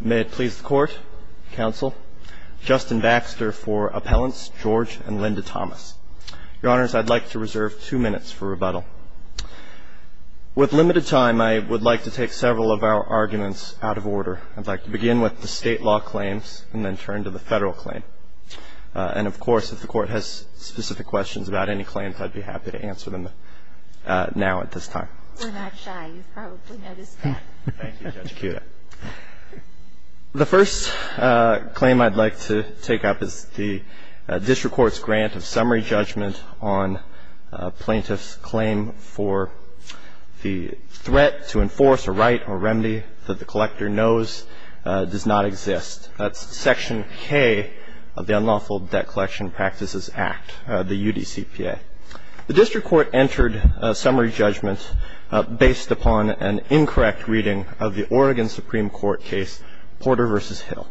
May it please the Court, Counsel, Justin Baxter for Appellants George and Linda Thomas. Your Honors, I'd like to reserve two minutes for rebuttal. With limited time, I would like to take several of our arguments out of order. I'd like to begin with the State law claims and then turn to the Federal claim. And, of course, if the Court has specific questions about any claims, I'd be happy to answer them now at this time. We're not shy. You've probably noticed that. Thank you, Judge Kuda. The first claim I'd like to take up is the District Court's grant of summary judgment on a plaintiff's claim for the threat to enforce a right or remedy that the collector knows does not exist. That's Section K of the Unlawful Debt Collection Practices Act, the UDCPA. The District Court entered a summary judgment based upon an incorrect reading of the Oregon Supreme Court case Porter v. Hill.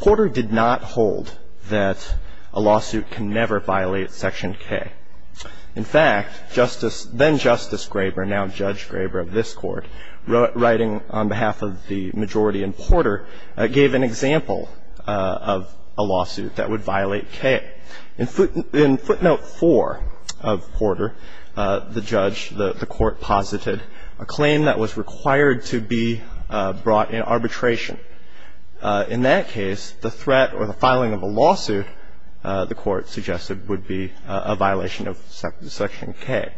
Porter did not hold that a lawsuit can never violate Section K. In fact, then-Justice Graber, now Judge Graber of this Court, writing on behalf of the majority in Porter, gave an example of a lawsuit that would violate K. In footnote 4 of Porter, the judge, the Court, posited a claim that was required to be brought in arbitration. In that case, the threat or the filing of a lawsuit, the Court suggested, would be a violation of Section K.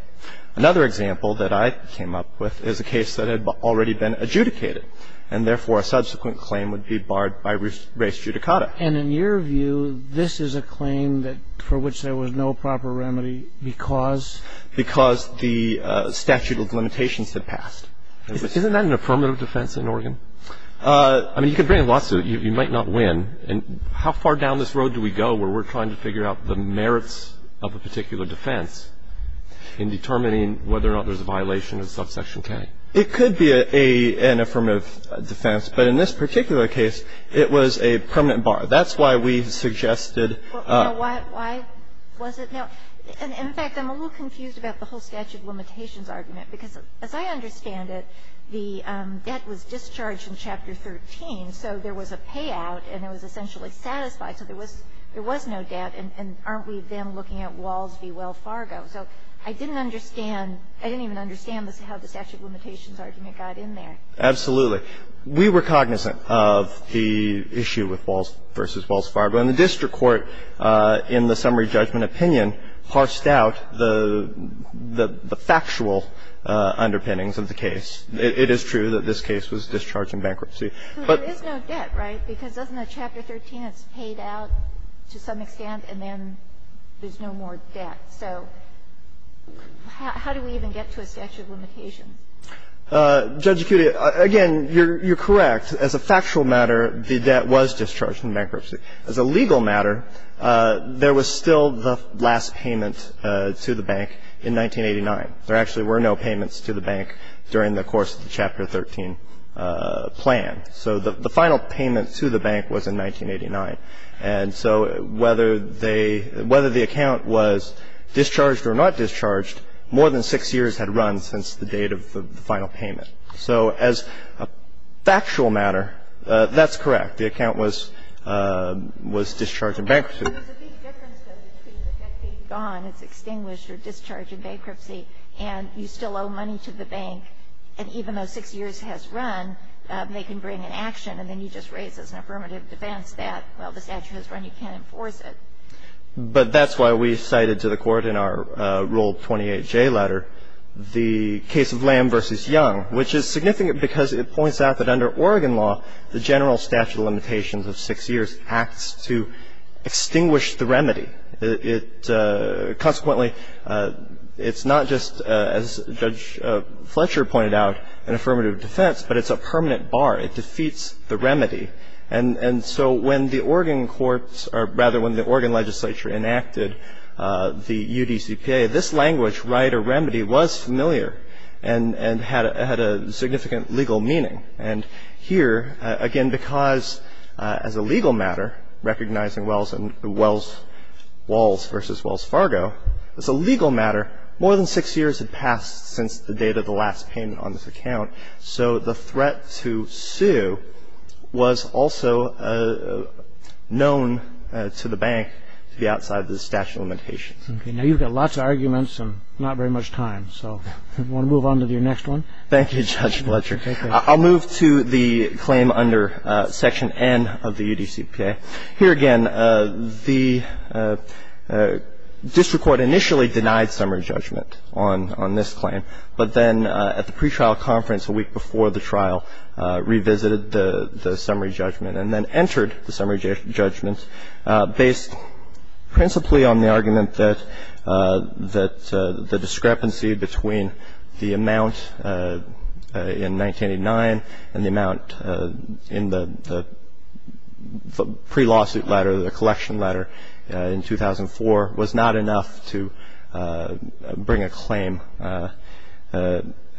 Another example that I came up with is a case that had already been adjudicated, and therefore a subsequent claim would be barred by res judicata. And in your view, this is a claim that for which there was no proper remedy because? Because the statute of limitations had passed. Isn't that an affirmative defense in Oregon? I mean, you could bring a lawsuit. You might not win. And how far down this road do we go where we're trying to figure out the merits of a particular defense in determining whether or not there's a violation of subsection It could be an affirmative defense. But in this particular case, it was a permanent bar. That's why we suggested. Why was it not? In fact, I'm a little confused about the whole statute of limitations argument, because as I understand it, the debt was discharged in Chapter 13, so there was a payout and it was essentially satisfied, so there was no debt. And aren't we then looking at Walls v. Wells Fargo? So I didn't understand. I didn't even understand how the statute of limitations argument got in there. Absolutely. We were cognizant of the issue with Walls v. Wells Fargo, and the district court in the summary judgment opinion harshed out the factual underpinnings of the case. It is true that this case was discharged in bankruptcy. But there's no debt, right? Because doesn't the Chapter 13, it's paid out to some extent, and then there's no more debt. So how do we even get to a statute of limitations? Judge Cudito, again, you're correct. As a factual matter, the debt was discharged in bankruptcy. As a legal matter, there was still the last payment to the bank in 1989. There actually were no payments to the bank during the course of the Chapter 13 plan. So the final payment to the bank was in 1989. And so whether they – whether the account was discharged or not discharged, more than six years had run since the date of the final payment. So as a factual matter, that's correct. The account was discharged in bankruptcy. There's a big difference, though, between the debt being gone, it's extinguished, or discharged in bankruptcy, and you still owe money to the bank. And even though six years has run, they can bring an action, and then you just raise as an affirmative defense that, well, the statute has run, you can't enforce it. But that's why we cited to the Court in our Rule 28J letter the case of Lamb v. Young, which is significant because it points out that under Oregon law, the general statute of limitations of six years acts to extinguish the remedy. It – consequently, it's not just, as Judge Fletcher pointed out, an affirmative defense, but it's a permanent bar. It defeats the remedy. And so when the Oregon courts – or rather, when the Oregon legislature enacted the UDCPA, this language, right or remedy, was familiar and had a significant legal meaning. And here, again, because as a legal matter, recognizing Wells and – Wells – Walls v. Wells Fargo, as a legal matter, more than six years had passed since the date of the last payment on this account. So the threat to sue was also known to the bank to be outside the statute of limitations. Okay. Now, you've got lots of arguments and not very much time. So I'm going to move on to your next one. Thank you, Judge Fletcher. Take care. I'll move to the claim under Section N of the UDCPA. Here, again, the district court initially denied summary judgment on – on this claim. But then at the pretrial conference a week before the trial, revisited the summary judgment and then entered the summary judgment based principally on the argument that – that the discrepancy between the amount in 1989 and the amount in the pre-lawsuit letter, the collection letter in 2004, was not enough to bring a claim.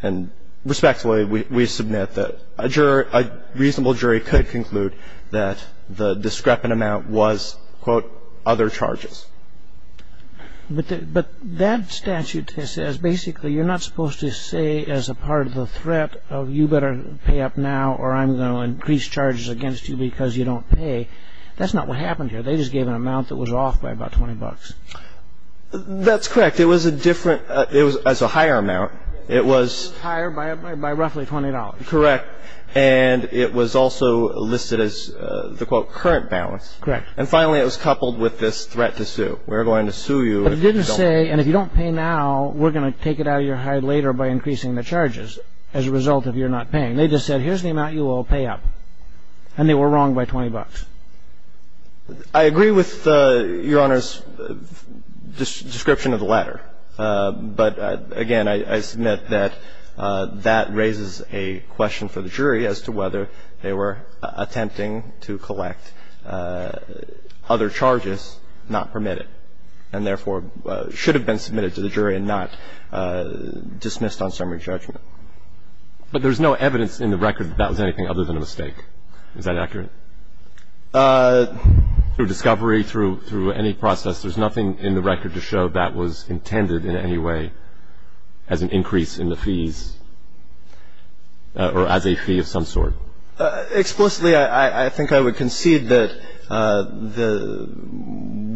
And respectfully, we submit that a juror – a reasonable jury could conclude that the discrepant amount was, quote, other charges. But that statute says basically you're not supposed to say as a part of the threat, oh, you better pay up now or I'm going to increase charges against you because you don't pay. That's not what happened here. They just gave an amount that was off by about $20. That's correct. It was a different – it was a higher amount. It was higher by roughly $20. Correct. And it was also listed as the, quote, current balance. Correct. And finally, it was coupled with this threat to sue. We're going to sue you if you don't pay. But it didn't say, and if you don't pay now, we're going to take it out of your hide later by increasing the charges as a result of your not paying. I agree with Your Honor's description of the latter. But, again, I submit that that raises a question for the jury as to whether they were attempting to collect other charges not permitted and, therefore, should have been submitted to the jury and not dismissed on summary judgment. But there's no evidence in the record that that was anything other than a mistake. Is that accurate? Through discovery, through any process, there's nothing in the record to show that was intended in any way as an increase in the fees or as a fee of some sort. Explicitly, I think I would concede that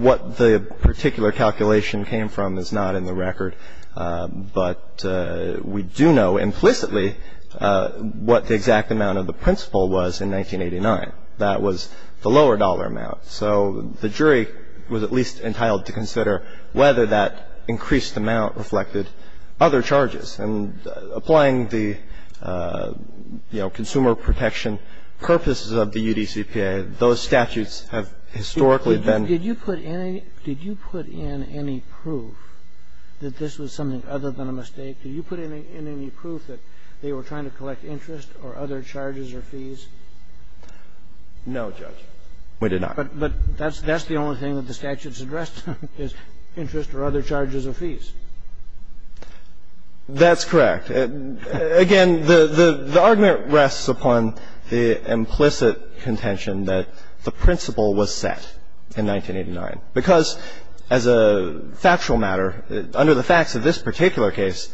what the particular calculation came from is not in the record. But we do know implicitly what the exact amount of the principal was in 1989. That was the lower dollar amount. So the jury was at least entitled to consider whether that increased amount reflected other charges. And applying the, you know, consumer protection purposes of the UDCPA, those statutes have historically been ---- Did you put in any proof that this was something other than a mistake? Did you put in any proof that they were trying to collect interest or other charges or fees? No, Judge. We did not. But that's the only thing that the statutes addressed is interest or other charges or fees. That's correct. Again, the argument rests upon the implicit contention that the principal was set in 1989. Because as a factual matter, under the facts of this particular case,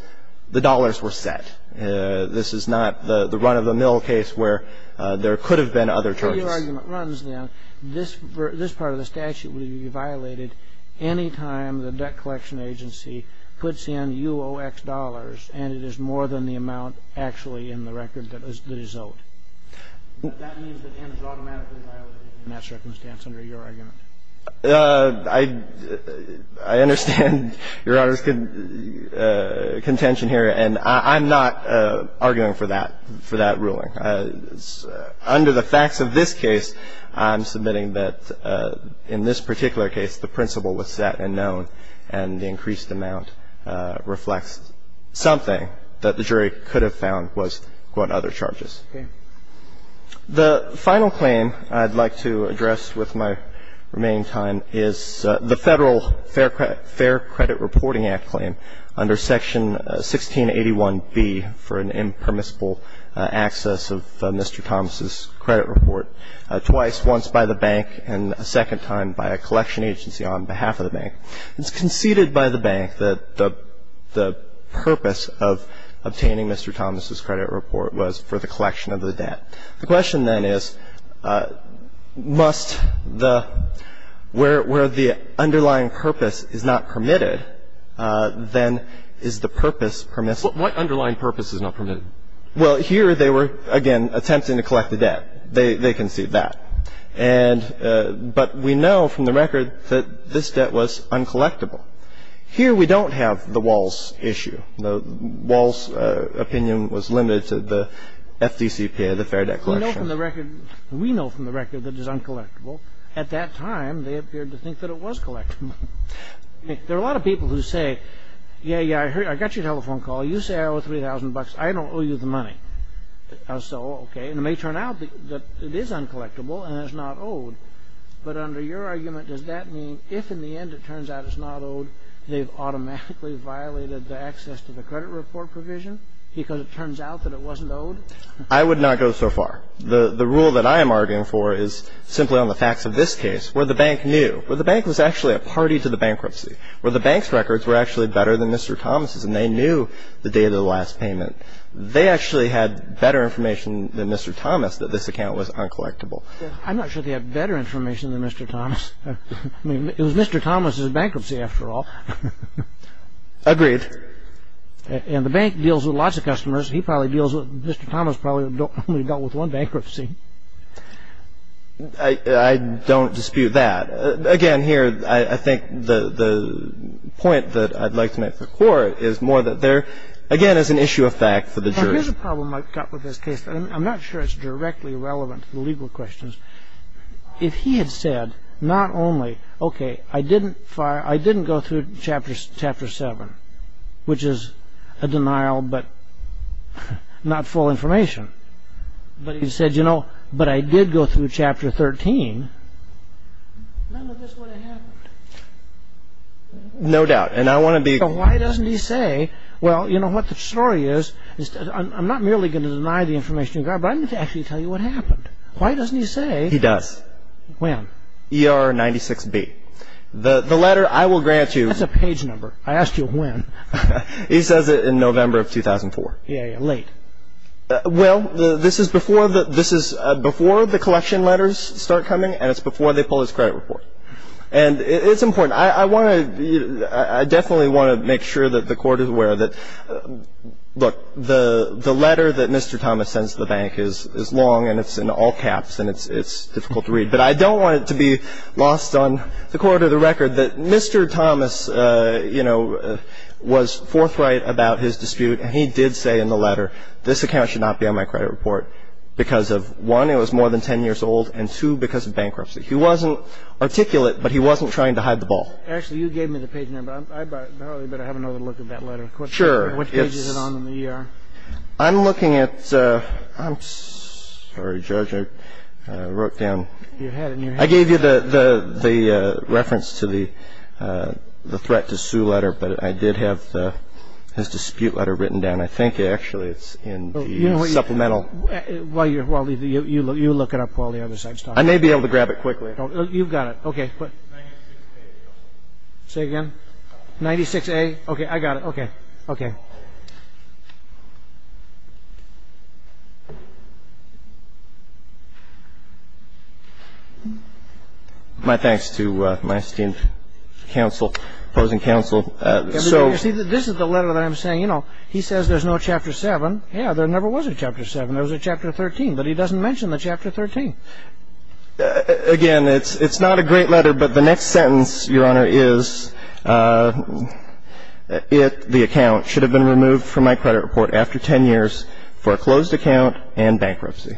the dollars were set. This is not the run-of-the-mill case where there could have been other charges. If your argument runs, then, this part of the statute would be violated any time the And it is more than the amount actually in the record that is owed. That means it ends automatically violated in that circumstance under your argument. I understand Your Honor's contention here. And I'm not arguing for that, for that ruling. Under the facts of this case, I'm submitting that in this particular case, the principal was set and known, and the increased amount reflects something that the jury could have found was, quote, other charges. Okay. The final claim I'd like to address with my remaining time is the Federal Fair Credit Reporting Act claim under Section 1681B for an impermissible access of Mr. Thomas's It was conceded by the bank. It's conceded by the bank that the purpose of obtaining Mr. Thomas's credit report was for the collection of the debt. The question, then, is, must the — where the underlying purpose is not permitted, then is the purpose permissible? What underlying purpose is not permitted? Well, here they were, again, attempting to collect the debt. They conceded that. And — but we know from the record that this debt was uncollectible. Here we don't have the Walls issue. The Walls opinion was limited to the FDCPA, the Fair Debt Collection. We know from the record that it is uncollectible. At that time, they appeared to think that it was collectible. There are a lot of people who say, yeah, yeah, I heard — I got your telephone call. You say I owe 3,000 bucks. I don't owe you the money. So, okay. And it may turn out that it is uncollectible and it's not owed. But under your argument, does that mean if, in the end, it turns out it's not owed, they've automatically violated the access to the credit report provision because it turns out that it wasn't owed? I would not go so far. The rule that I am arguing for is simply on the facts of this case, where the bank knew. Where the bank was actually a party to the bankruptcy. Where the bank's records were actually better than Mr. Thomas' and they knew the date of the last payment. They actually had better information than Mr. Thomas that this account was uncollectible. I'm not sure they had better information than Mr. Thomas. I mean, it was Mr. Thomas' bankruptcy, after all. Agreed. And the bank deals with lots of customers. He probably deals with — Mr. Thomas probably only dealt with one bankruptcy. I don't dispute that. Again, here, I think the point that I'd like to make for court is more that there, again, is an issue of fact for the jury. Now, here's a problem I've got with this case. I'm not sure it's directly relevant to the legal questions. If he had said not only, okay, I didn't fire — I didn't go through Chapter 7, which is a denial but not full information. But he said, you know, but I did go through Chapter 13, none of this would have happened. No doubt. And I want to be — So why doesn't he say, well, you know what, the story is — I'm not merely going to deny the information you got, but I need to actually tell you what happened. Why doesn't he say — He does. When? ER 96B. The letter, I will grant you — That's a page number. I asked you when. He says it in November of 2004. Yeah, yeah, late. Well, this is before the — this is before the collection letters start coming, and it's before they pull his credit report. And it's important. I want to — I definitely want to make sure that the Court is aware that, look, the letter that Mr. Thomas sends to the bank is long, and it's in all caps, and it's difficult to read. But I don't want it to be lost on the Court of the Record that Mr. Thomas, you know, was forthright about his dispute, and he did say in the letter, this account should not be on my credit report because of, one, it was more than 10 years old, and, two, because of bankruptcy. He wasn't articulate, but he wasn't trying to hide the ball. Actually, you gave me the page number. I probably better have another look at that letter. Sure. Which page is it on in the ER? I'm looking at — I'm sorry, Judge, I wrote down — You had it in your hand. I gave you the reference to the threat to sue letter, but I did have his dispute letter written down. I think, actually, it's in the supplemental. Well, you look it up while the other side is talking. I may be able to grab it quickly. You've got it. 96A. Say again? 96A. 96A? Okay, I got it. Okay. Okay. My thanks to my esteemed counsel, opposing counsel. So — You see, this is the letter that I'm saying. You know, he says there's no Chapter 7. Yeah, there never was a Chapter 7. There was a Chapter 13, but he doesn't mention the Chapter 13. Again, it's not a great letter, but the next sentence, Your Honor, is it, the account, should have been removed from my credit report after 10 years for a closed account and bankruptcy.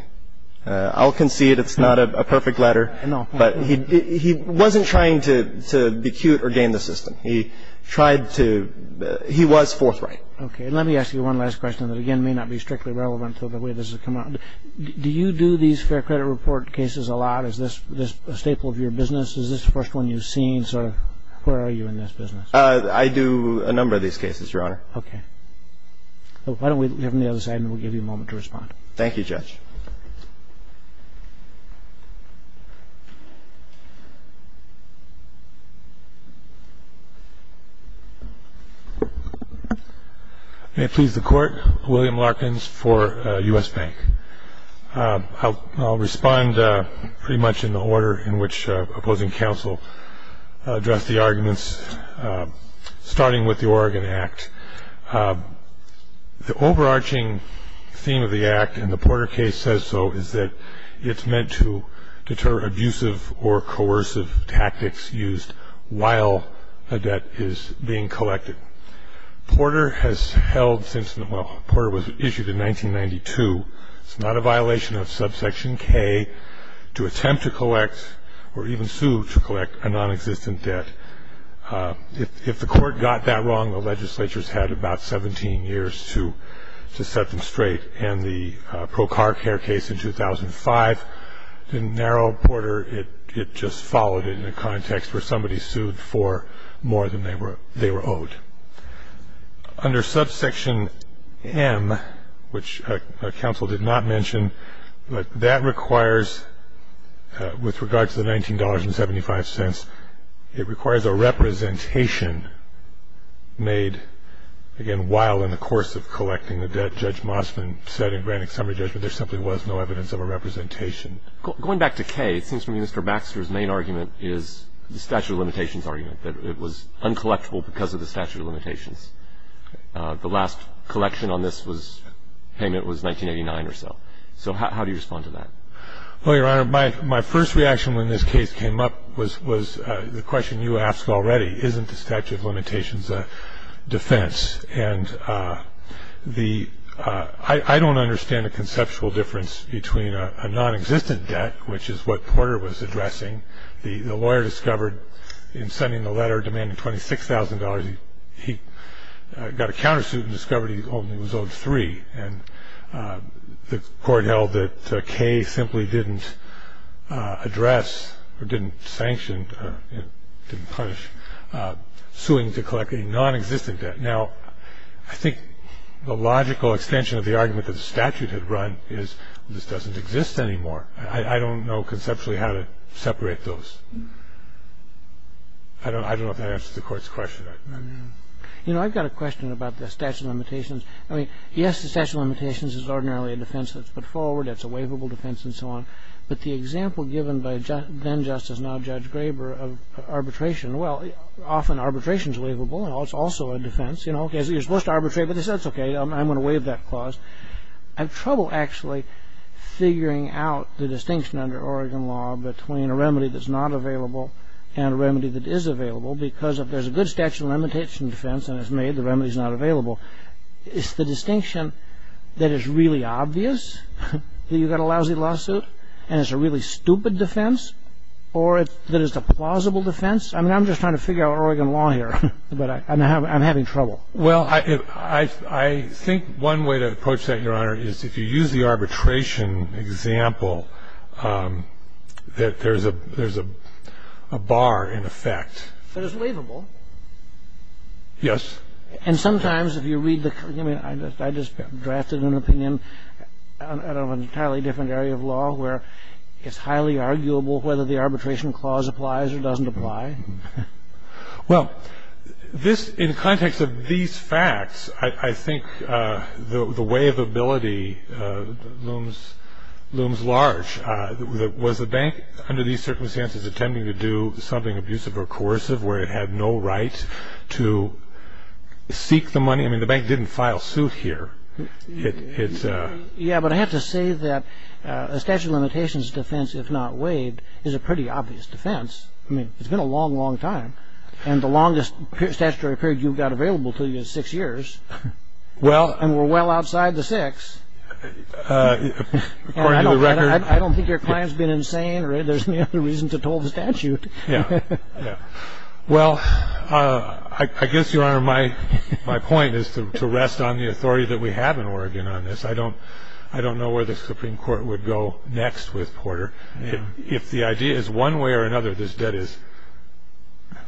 I'll concede it's not a perfect letter, but he wasn't trying to be cute or game the system. He tried to — he was forthright. Okay. Let me ask you one last question that, again, may not be strictly relevant to the way this has come out. Do you do these fair credit report cases a lot? Is this a staple of your business? Is this the first one you've seen? Where are you in this business? I do a number of these cases, Your Honor. Okay. Why don't we hear from the other side, and we'll give you a moment to respond. Thank you, Judge. May it please the Court, William Larkins for U.S. Bank. I'll respond pretty much in the order in which opposing counsel addressed the arguments, starting with the Oregon Act. The overarching theme of the Act, and the Porter case says so, is that it's meant to deter abusive or coercive tactics used while a debt is being collected. Porter has held since — well, Porter was issued in 1992. It's not a violation of subsection K to attempt to collect or even sue to collect a nonexistent debt. If the Court got that wrong, the legislature's had about 17 years to set them straight, and the pro car care case in 2005 didn't narrow Porter. It just followed it in a context where somebody sued for more than they were owed. Under subsection M, which counsel did not mention, that requires, with regard to the $19.75, it requires a representation made, again, while in the course of collecting the debt. Judge Mosman said in granting summary judgment there simply was no evidence of a representation. Going back to K, it seems to me Mr. Baxter's main argument is the statute of limitations argument, that it was uncollectible because of the statute of limitations. The last collection on this payment was 1989 or so. So how do you respond to that? Well, Your Honor, my first reaction when this case came up was the question you asked already, isn't the statute of limitations a defense? And the — I don't understand the conceptual difference between a nonexistent debt, which is what Porter was addressing. The lawyer discovered in sending the letter demanding $26,000 he got a countersuit and discovered he only was owed three. And the court held that K simply didn't address or didn't sanction, didn't punish suing to collect a nonexistent debt. Now, I think the logical extension of the argument that the statute had run is this doesn't exist anymore. I don't know conceptually how to separate those. I don't know if that answers the Court's question. You know, I've got a question about the statute of limitations. I mean, yes, the statute of limitations is ordinarily a defense that's put forward. It's a waivable defense and so on. But the example given by then-Justice, now Judge Graber of arbitration, well, often arbitration is waivable and it's also a defense. You know, okay, so you're supposed to arbitrate, but that's okay. I'm going to waive that clause. I have trouble actually figuring out the distinction under Oregon law between a remedy that's not available and a remedy that is available because if there's a good statute of limitation defense and it's made, the remedy is not available. Is the distinction that it's really obvious that you've got a lousy lawsuit and it's a really stupid defense or that it's a plausible defense? I mean, I'm just trying to figure out Oregon law here, but I'm having trouble. Well, I think one way to approach that, Your Honor, is if you use the arbitration example that there's a bar in effect. But it's waivable. Yes. And sometimes if you read the ---- I mean, I just drafted an opinion out of an entirely different area of law where it's highly arguable whether the arbitration clause applies or doesn't apply. Well, this ---- in context of these facts, I think the way of ability looms large. Was the bank under these circumstances attempting to do something abusive or coercive where it had no right to seek the money? I mean, the bank didn't file suit here. Yes, but I have to say that a statute of limitations defense, if not waived, is a pretty obvious defense. I mean, it's been a long, long time. And the longest statutory period you've got available to you is six years. Well, and we're well outside the six. According to the record ---- I don't think your client's been insane or there's any other reason to toll the statute. Yes. Well, I guess, Your Honor, my point is to rest on the authority that we have in Oregon on this. I don't know where the Supreme Court would go next with Porter. If the idea is one way or another this debt is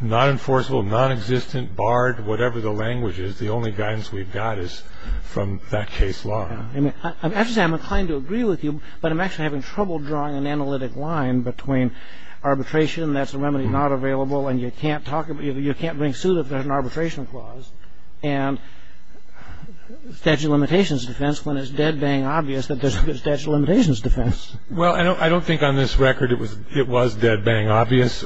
non-enforceable, non-existent, barred, whatever the language is, the only guidance we've got is from that case law. I mean, I have to say I'm inclined to agree with you, but I'm actually having trouble drawing an analytic line between arbitration, that's a remedy not available and you can't bring suit if there's an arbitration clause, and statute of limitations defense when it's dead-bang obvious that there's good statute of limitations defense. Well, I don't think on this record it was dead-bang obvious,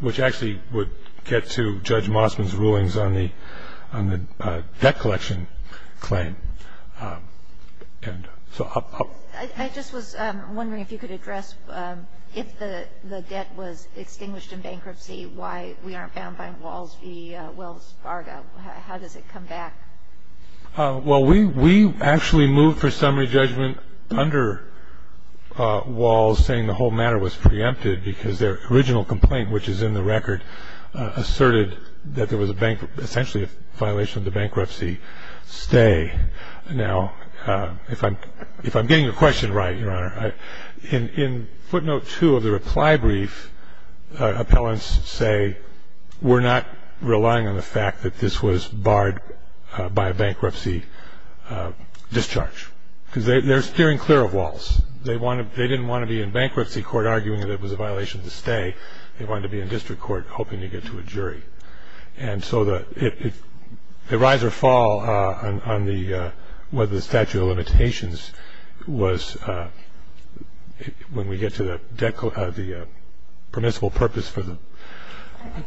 which actually would get to Judge Mossman's rulings on the debt collection claim. And so I'll ---- I just was wondering if you could address if the debt was extinguished in bankruptcy, why we aren't bound by Walls v. Wells Fargo. How does it come back? Well, we actually moved for summary judgment under Walls saying the whole matter was preempted because their original complaint, which is in the record, asserted that there was essentially a violation of the bankruptcy stay. Now, if I'm getting your question right, Your Honor, in footnote two of the reply brief, appellants say we're not relying on the fact that this was barred by a bankruptcy discharge because they're steering clear of Walls. They didn't want to be in bankruptcy court arguing that it was a violation of the stay. They wanted to be in district court hoping to get to a jury. And so the rise or fall on the statute of limitations was when we get to the permissible purpose for the ---- I don't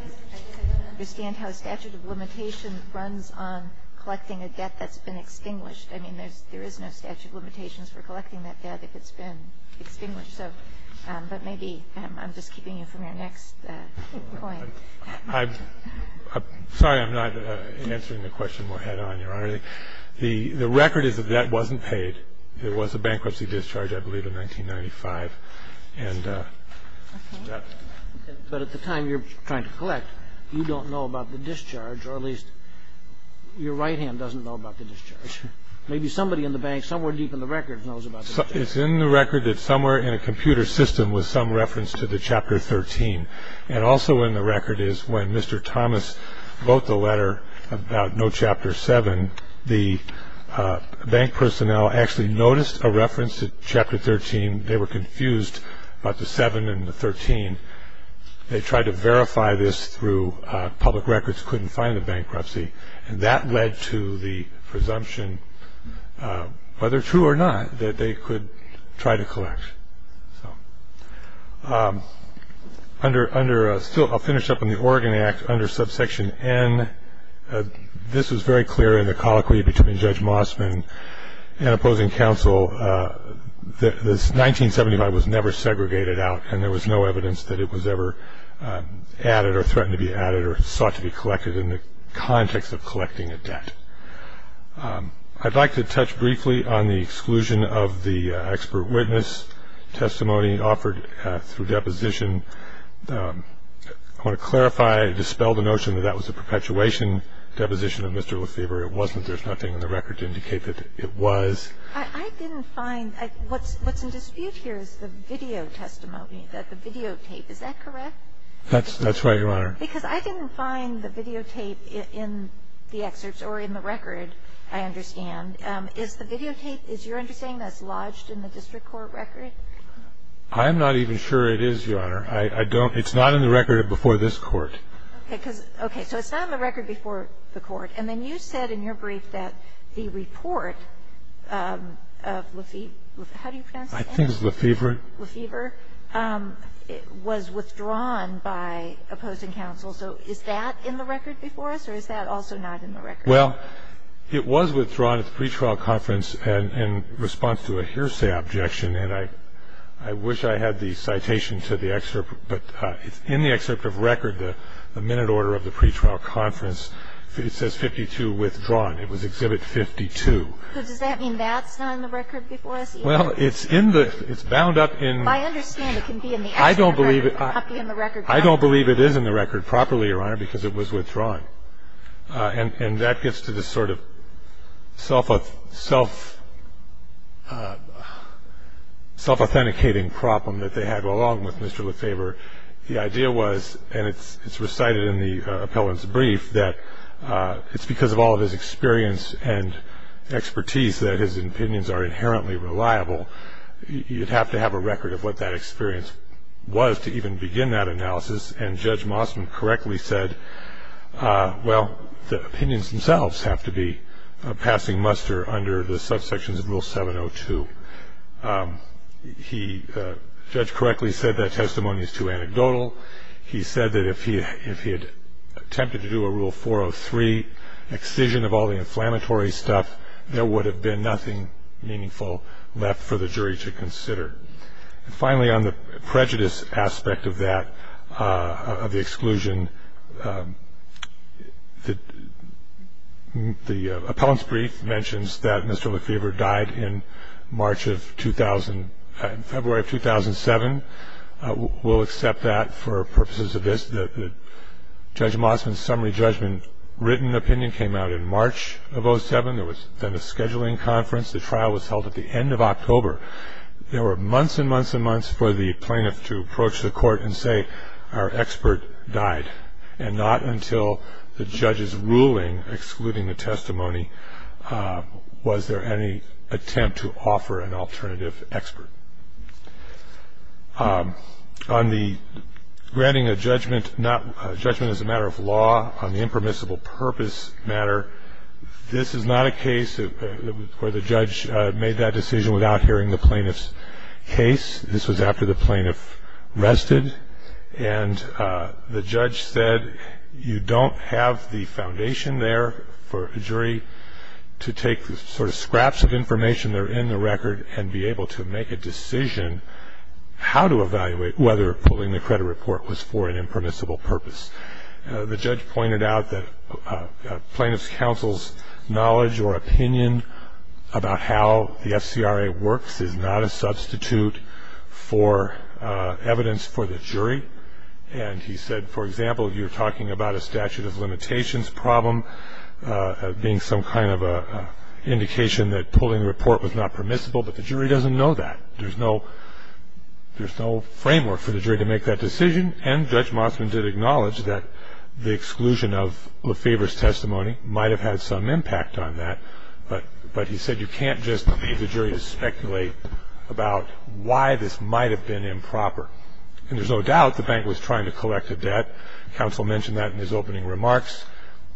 understand how a statute of limitation runs on collecting a debt that's been extinguished. I mean, there is no statute of limitations for collecting that debt if it's been extinguished. But maybe I'm just keeping you from your next point. I'm sorry I'm not answering the question more head-on, Your Honor. The record is that that wasn't paid. There was a bankruptcy discharge, I believe, in 1995. But at the time you're trying to collect, you don't know about the discharge, or at least your right hand doesn't know about the discharge. Maybe somebody in the bank somewhere deep in the record knows about the discharge. It's in the record that somewhere in a computer system was some reference to the Chapter 13. And also in the record is when Mr. Thomas wrote the letter about no Chapter 7, the bank personnel actually noticed a reference to Chapter 13. They were confused about the 7 and the 13. They tried to verify this through public records, couldn't find the bankruptcy. And that led to the presumption, whether true or not, that they could try to collect. Still, I'll finish up on the Oregon Act under Subsection N. This was very clear in the colloquy between Judge Mossman and opposing counsel. This 1975 was never segregated out, and there was no evidence that it was ever added or threatened to be added or sought to be collected in the context of collecting a debt. I'd like to touch briefly on the exclusion of the expert witness testimony offered through deposition. I want to clarify, dispel the notion that that was a perpetuation deposition of Mr. Lefebvre. It wasn't. There's nothing in the record to indicate that it was. I didn't find – what's in dispute here is the video testimony, the videotape. Is that correct? That's right, Your Honor. Because I didn't find the videotape in the excerpts or in the record, I understand. Is the videotape, is your understanding that it's lodged in the district court record? I'm not even sure it is, Your Honor. I don't – it's not in the record before this Court. Okay. So it's not in the record before the Court. And then you said in your brief that the report of Lefebvre – how do you pronounce his name? I think it's Lefebvre. Lefebvre was withdrawn by opposing counsel. So is that in the record before us, or is that also not in the record? Well, it was withdrawn at the pretrial conference in response to a hearsay objection, and I wish I had the citation to the excerpt. But in the excerpt of record, the minute order of the pretrial conference, it says 52 withdrawn. It was Exhibit 52. So does that mean that's not in the record before us either? Well, it's in the – it's bound up in – I understand it can be in the excerpt, but it can't be in the record. I don't believe it is in the record properly, Your Honor, because it was withdrawn. And that gets to the sort of self-authenticating problem that they had along with Mr. Lefebvre. The idea was, and it's recited in the appellant's brief, that it's because of all of his experience and expertise that his opinions are inherently reliable. You'd have to have a record of what that experience was to even begin that analysis. And Judge Mossman correctly said, well, the opinions themselves have to be passing muster under the subsections of Rule 702. He – the judge correctly said that testimony is too anecdotal. He said that if he had attempted to do a Rule 403 excision of all the inflammatory stuff, there would have been nothing meaningful left for the jury to consider. And finally, on the prejudice aspect of that, of the exclusion, the appellant's brief mentions that Mr. Lefebvre died in March of – February of 2007. We'll accept that for purposes of this. Judge Mossman's summary judgment written opinion came out in March of 07. There was then a scheduling conference. There were months and months and months for the plaintiff to approach the court and say, our expert died, and not until the judge's ruling excluding the testimony was there any attempt to offer an alternative expert. On the granting a judgment not – judgment as a matter of law on the impermissible purpose matter, this is not a case where the judge made that decision without hearing the plaintiff's case. This was after the plaintiff rested, and the judge said you don't have the foundation there for a jury to take the sort of scraps of information that are in the record and be able to make a decision how to evaluate whether pulling the credit report was for an impermissible purpose. The judge pointed out that plaintiff's counsel's knowledge or opinion about how the FCRA works is not a substitute for evidence for the jury. And he said, for example, you're talking about a statute of limitations problem being some kind of an indication that pulling the report was not permissible, but the jury doesn't know that. There's no – there's no framework for the jury to make that decision, and Judge Mossman did acknowledge that the exclusion of Lefebvre's testimony might have had some impact on that, but he said you can't just leave the jury to speculate about why this might have been improper. And there's no doubt the bank was trying to collect a debt. Counsel mentioned that in his opening remarks.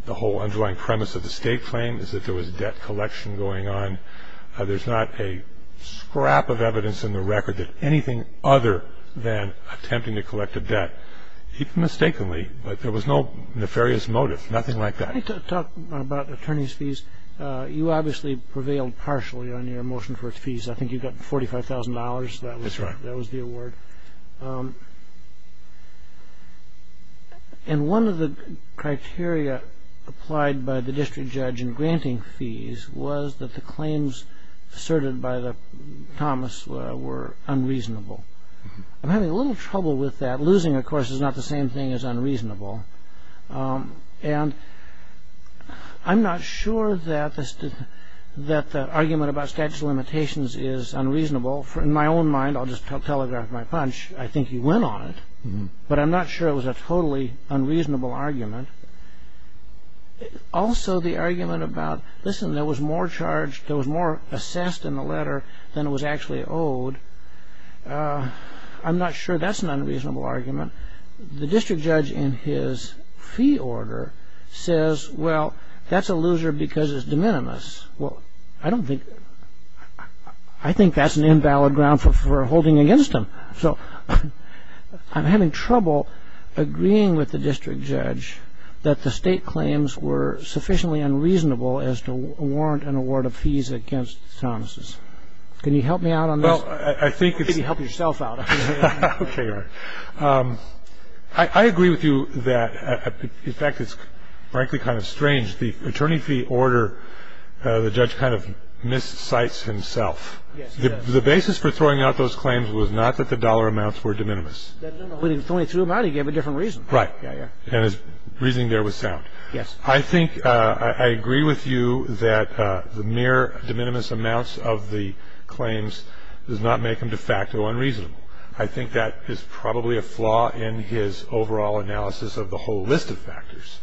The whole underlying premise of the state claim is that there was debt collection going on. There's not a scrap of evidence in the record that anything other than attempting to collect a debt, even mistakenly, that there was no nefarious motive, nothing like that. Let me talk about attorney's fees. You obviously prevailed partially on your motion for fees. I think you got $45,000. That was the award. That's right. And one of the criteria applied by the district judge in granting fees was that the claims asserted by Thomas were unreasonable. I'm having a little trouble with that. Losing, of course, is not the same thing as unreasonable. And I'm not sure that the argument about statute of limitations is unreasonable. In my own mind – I'll just telegraph my punch. I think you went on it, but I'm not sure it was a totally unreasonable argument. Also, the argument about, listen, there was more assessed in the letter than was actually owed, I'm not sure that's an unreasonable argument. The district judge in his fee order says, well, that's a loser because it's de minimis. Well, I don't think – I think that's an invalid ground for holding against him. So I'm having trouble agreeing with the district judge that the state claims were sufficiently unreasonable as to warrant an award of fees against Thomas. Can you help me out on this? Well, I think it's – Maybe help yourself out. Okay, all right. Well, I agree with you that the mere de minimis amounts of the claims does not make him de facto unreasonable. I think that is probably a flaw in his overall analysis of the whole list of factors.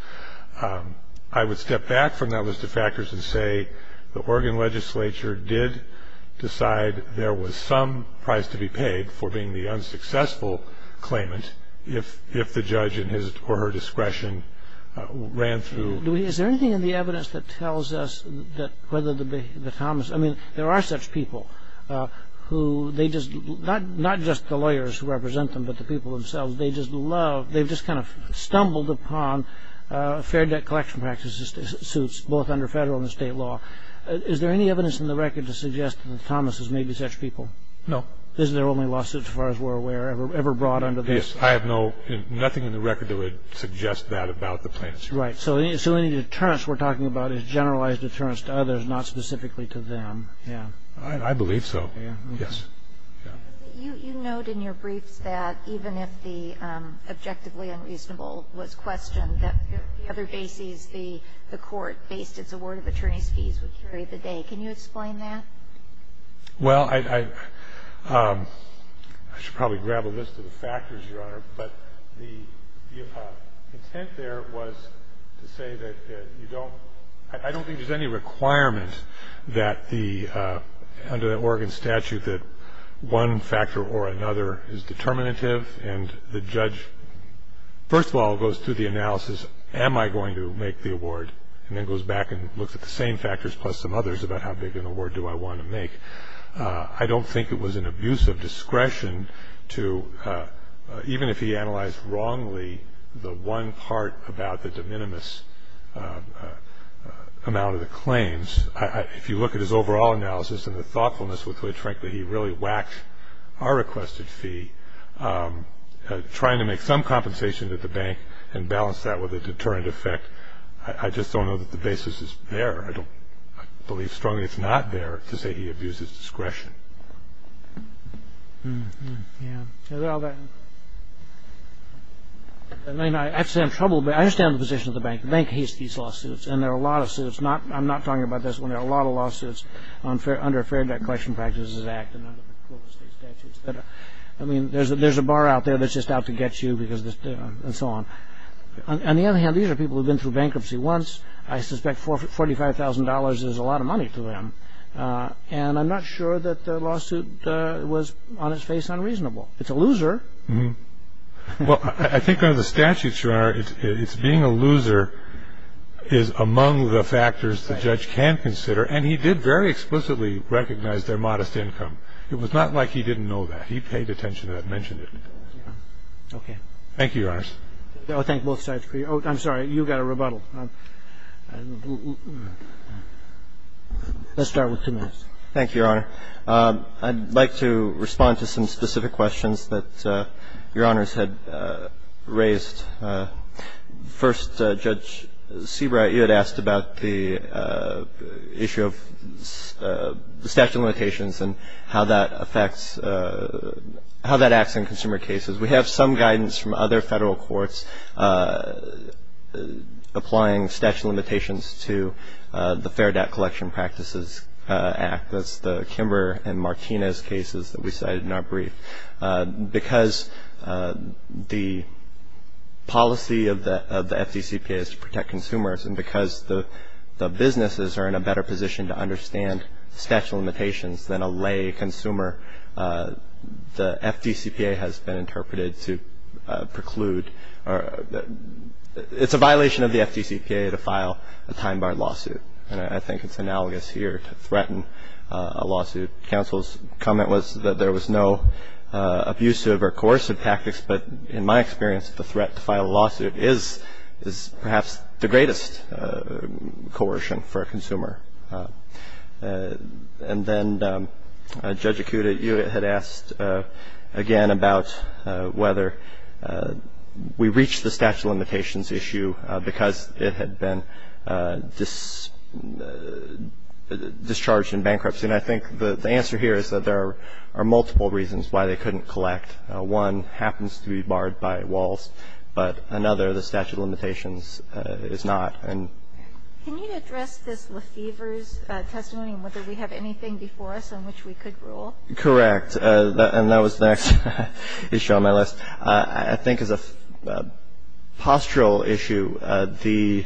I would step back from that list of factors and say the Oregon legislature did decide there was some price to be paid for being the unsuccessful claimant if the judge or her discretion ran through. Is there anything in the evidence that tells us that whether the – I mean, there are such people who they just – not just the lawyers who represent them, but the people themselves, they just love – they've just kind of stumbled upon fair debt collection practices suits, both under federal and state law. Is there any evidence in the record to suggest that Thomas has made these such people? No. This is their only lawsuit, as far as we're aware, ever brought under this. Yes, I have no – nothing in the record that would suggest that about the plaintiffs. Right, so any deterrence we're talking about is generalized deterrence to others, not specifically to them. I believe so, yes. You note in your briefs that even if the objectively unreasonable was questioned, that the other bases, the court, based its award of attorney's fees would carry the day. Can you explain that? Well, I should probably grab a list of the factors, Your Honor, but the intent there was to say that you don't – that the – under the Oregon statute that one factor or another is determinative, and the judge, first of all, goes through the analysis, am I going to make the award, and then goes back and looks at the same factors plus some others about how big an award do I want to make. I don't think it was an abuse of discretion to – if you look at his overall analysis and the thoughtfulness with which, frankly, he really whacked our requested fee, trying to make some compensation to the bank and balance that with a deterrent effect, I just don't know that the basis is there. I don't believe strongly it's not there to say he abused his discretion. I understand the position of the bank. I'm not talking about this when there are a lot of lawsuits under Fair Debt Collection Practices Act and under the Clovis State statutes. I mean, there's a bar out there that's just out to get you and so on. On the other hand, these are people who've been through bankruptcy once. I suspect $45,000 is a lot of money to them, and I'm not sure that the lawsuit was on its face unreasonable. Well, I think under the statutes, Your Honor, it's being a loser is among the factors the judge can consider, and he did very explicitly recognize their modest income. It was not like he didn't know that. He paid attention to that and mentioned it. Okay. Thank you, Your Honors. I thank both sides for you. Oh, I'm sorry. You got a rebuttal. Let's start with Timmons. Thank you, Your Honor. I'd like to respond to some specific questions that Your Honors had raised. First, Judge Seabright, you had asked about the issue of statute of limitations and how that affects how that acts in consumer cases. We have some guidance from other federal courts applying statute of limitations to the Fair Debt Collection Practices Act. That's the Kimber and Martinez cases that we cited in our brief. Because the policy of the FDCPA is to protect consumers and because the businesses are in a better position to understand statute of limitations than a lay consumer, the FDCPA has been interpreted to preclude. It's a violation of the FDCPA to file a time-barred lawsuit, and I think it's analogous here to threaten a lawsuit. Counsel's comment was that there was no abusive or coercive tactics, but in my experience the threat to file a lawsuit is perhaps the greatest coercion for a consumer. And then Judge Ikuda, you had asked again about whether we reach the statute of limitations issue because it had been discharged in bankruptcy. And I think the answer here is that there are multiple reasons why they couldn't collect. One happens to be barred by Walz, but another, the statute of limitations, is not. Can you address this Lefevre's testimony and whether we have anything before us on which we could rule? Correct. And that was the next issue on my list. I think as a postural issue, the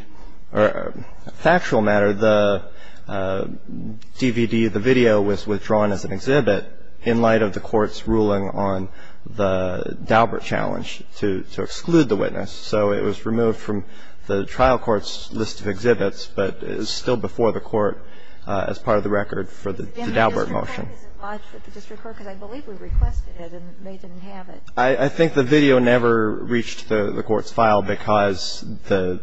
factual matter, the DVD, the video was withdrawn as an exhibit in light of the court's ruling on the Daubert challenge to exclude the witness. So it was removed from the trial court's list of exhibits, but it is still before the court as part of the record for the Daubert motion. And the district court isn't lodged with the district court because I believe we requested it and they didn't have it. I think the video never reached the court's file because the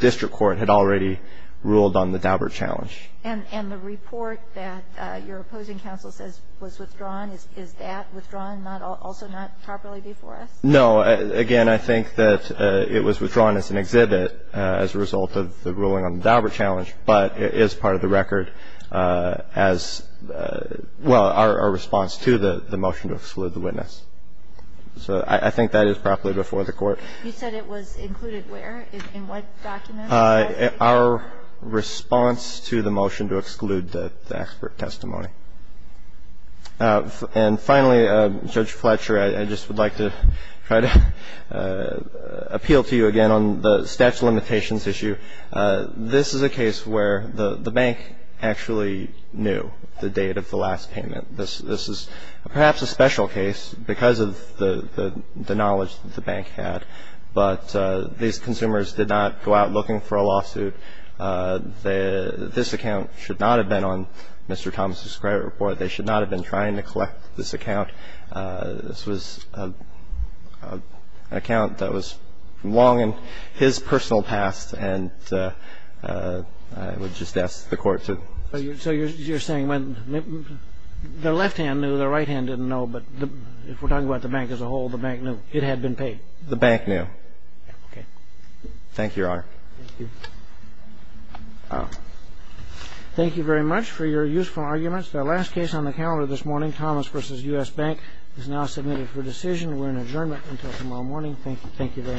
district court had already ruled on the Daubert challenge. And the report that your opposing counsel says was withdrawn, is that withdrawn also not properly before us? No. Again, I think that it was withdrawn as an exhibit as a result of the ruling on the Daubert challenge, but it is part of the record as, well, our response to the motion to exclude the witness. So I think that is properly before the court. You said it was included where? In what document? Our response to the motion to exclude the expert testimony. And finally, Judge Fletcher, I just would like to try to appeal to you again on the statute of limitations issue. This is a case where the bank actually knew the date of the last payment. This is perhaps a special case because of the knowledge that the bank had. But these consumers did not go out looking for a lawsuit. This account should not have been on Mr. Thomas' credit report. They should not have been trying to collect this account. This was an account that was long in his personal past, and I would just ask the court to ---- So you're saying when the left hand knew, the right hand didn't know, but if we're talking about the bank as a whole, the bank knew it had been paid? The bank knew. Okay. Thank you, Your Honor. Thank you. Thank you very much for your useful arguments. Our last case on the calendar this morning, Thomas v. U.S. Bank, is now submitted for decision. We're in adjournment until tomorrow morning. Thank you. Thank you very much.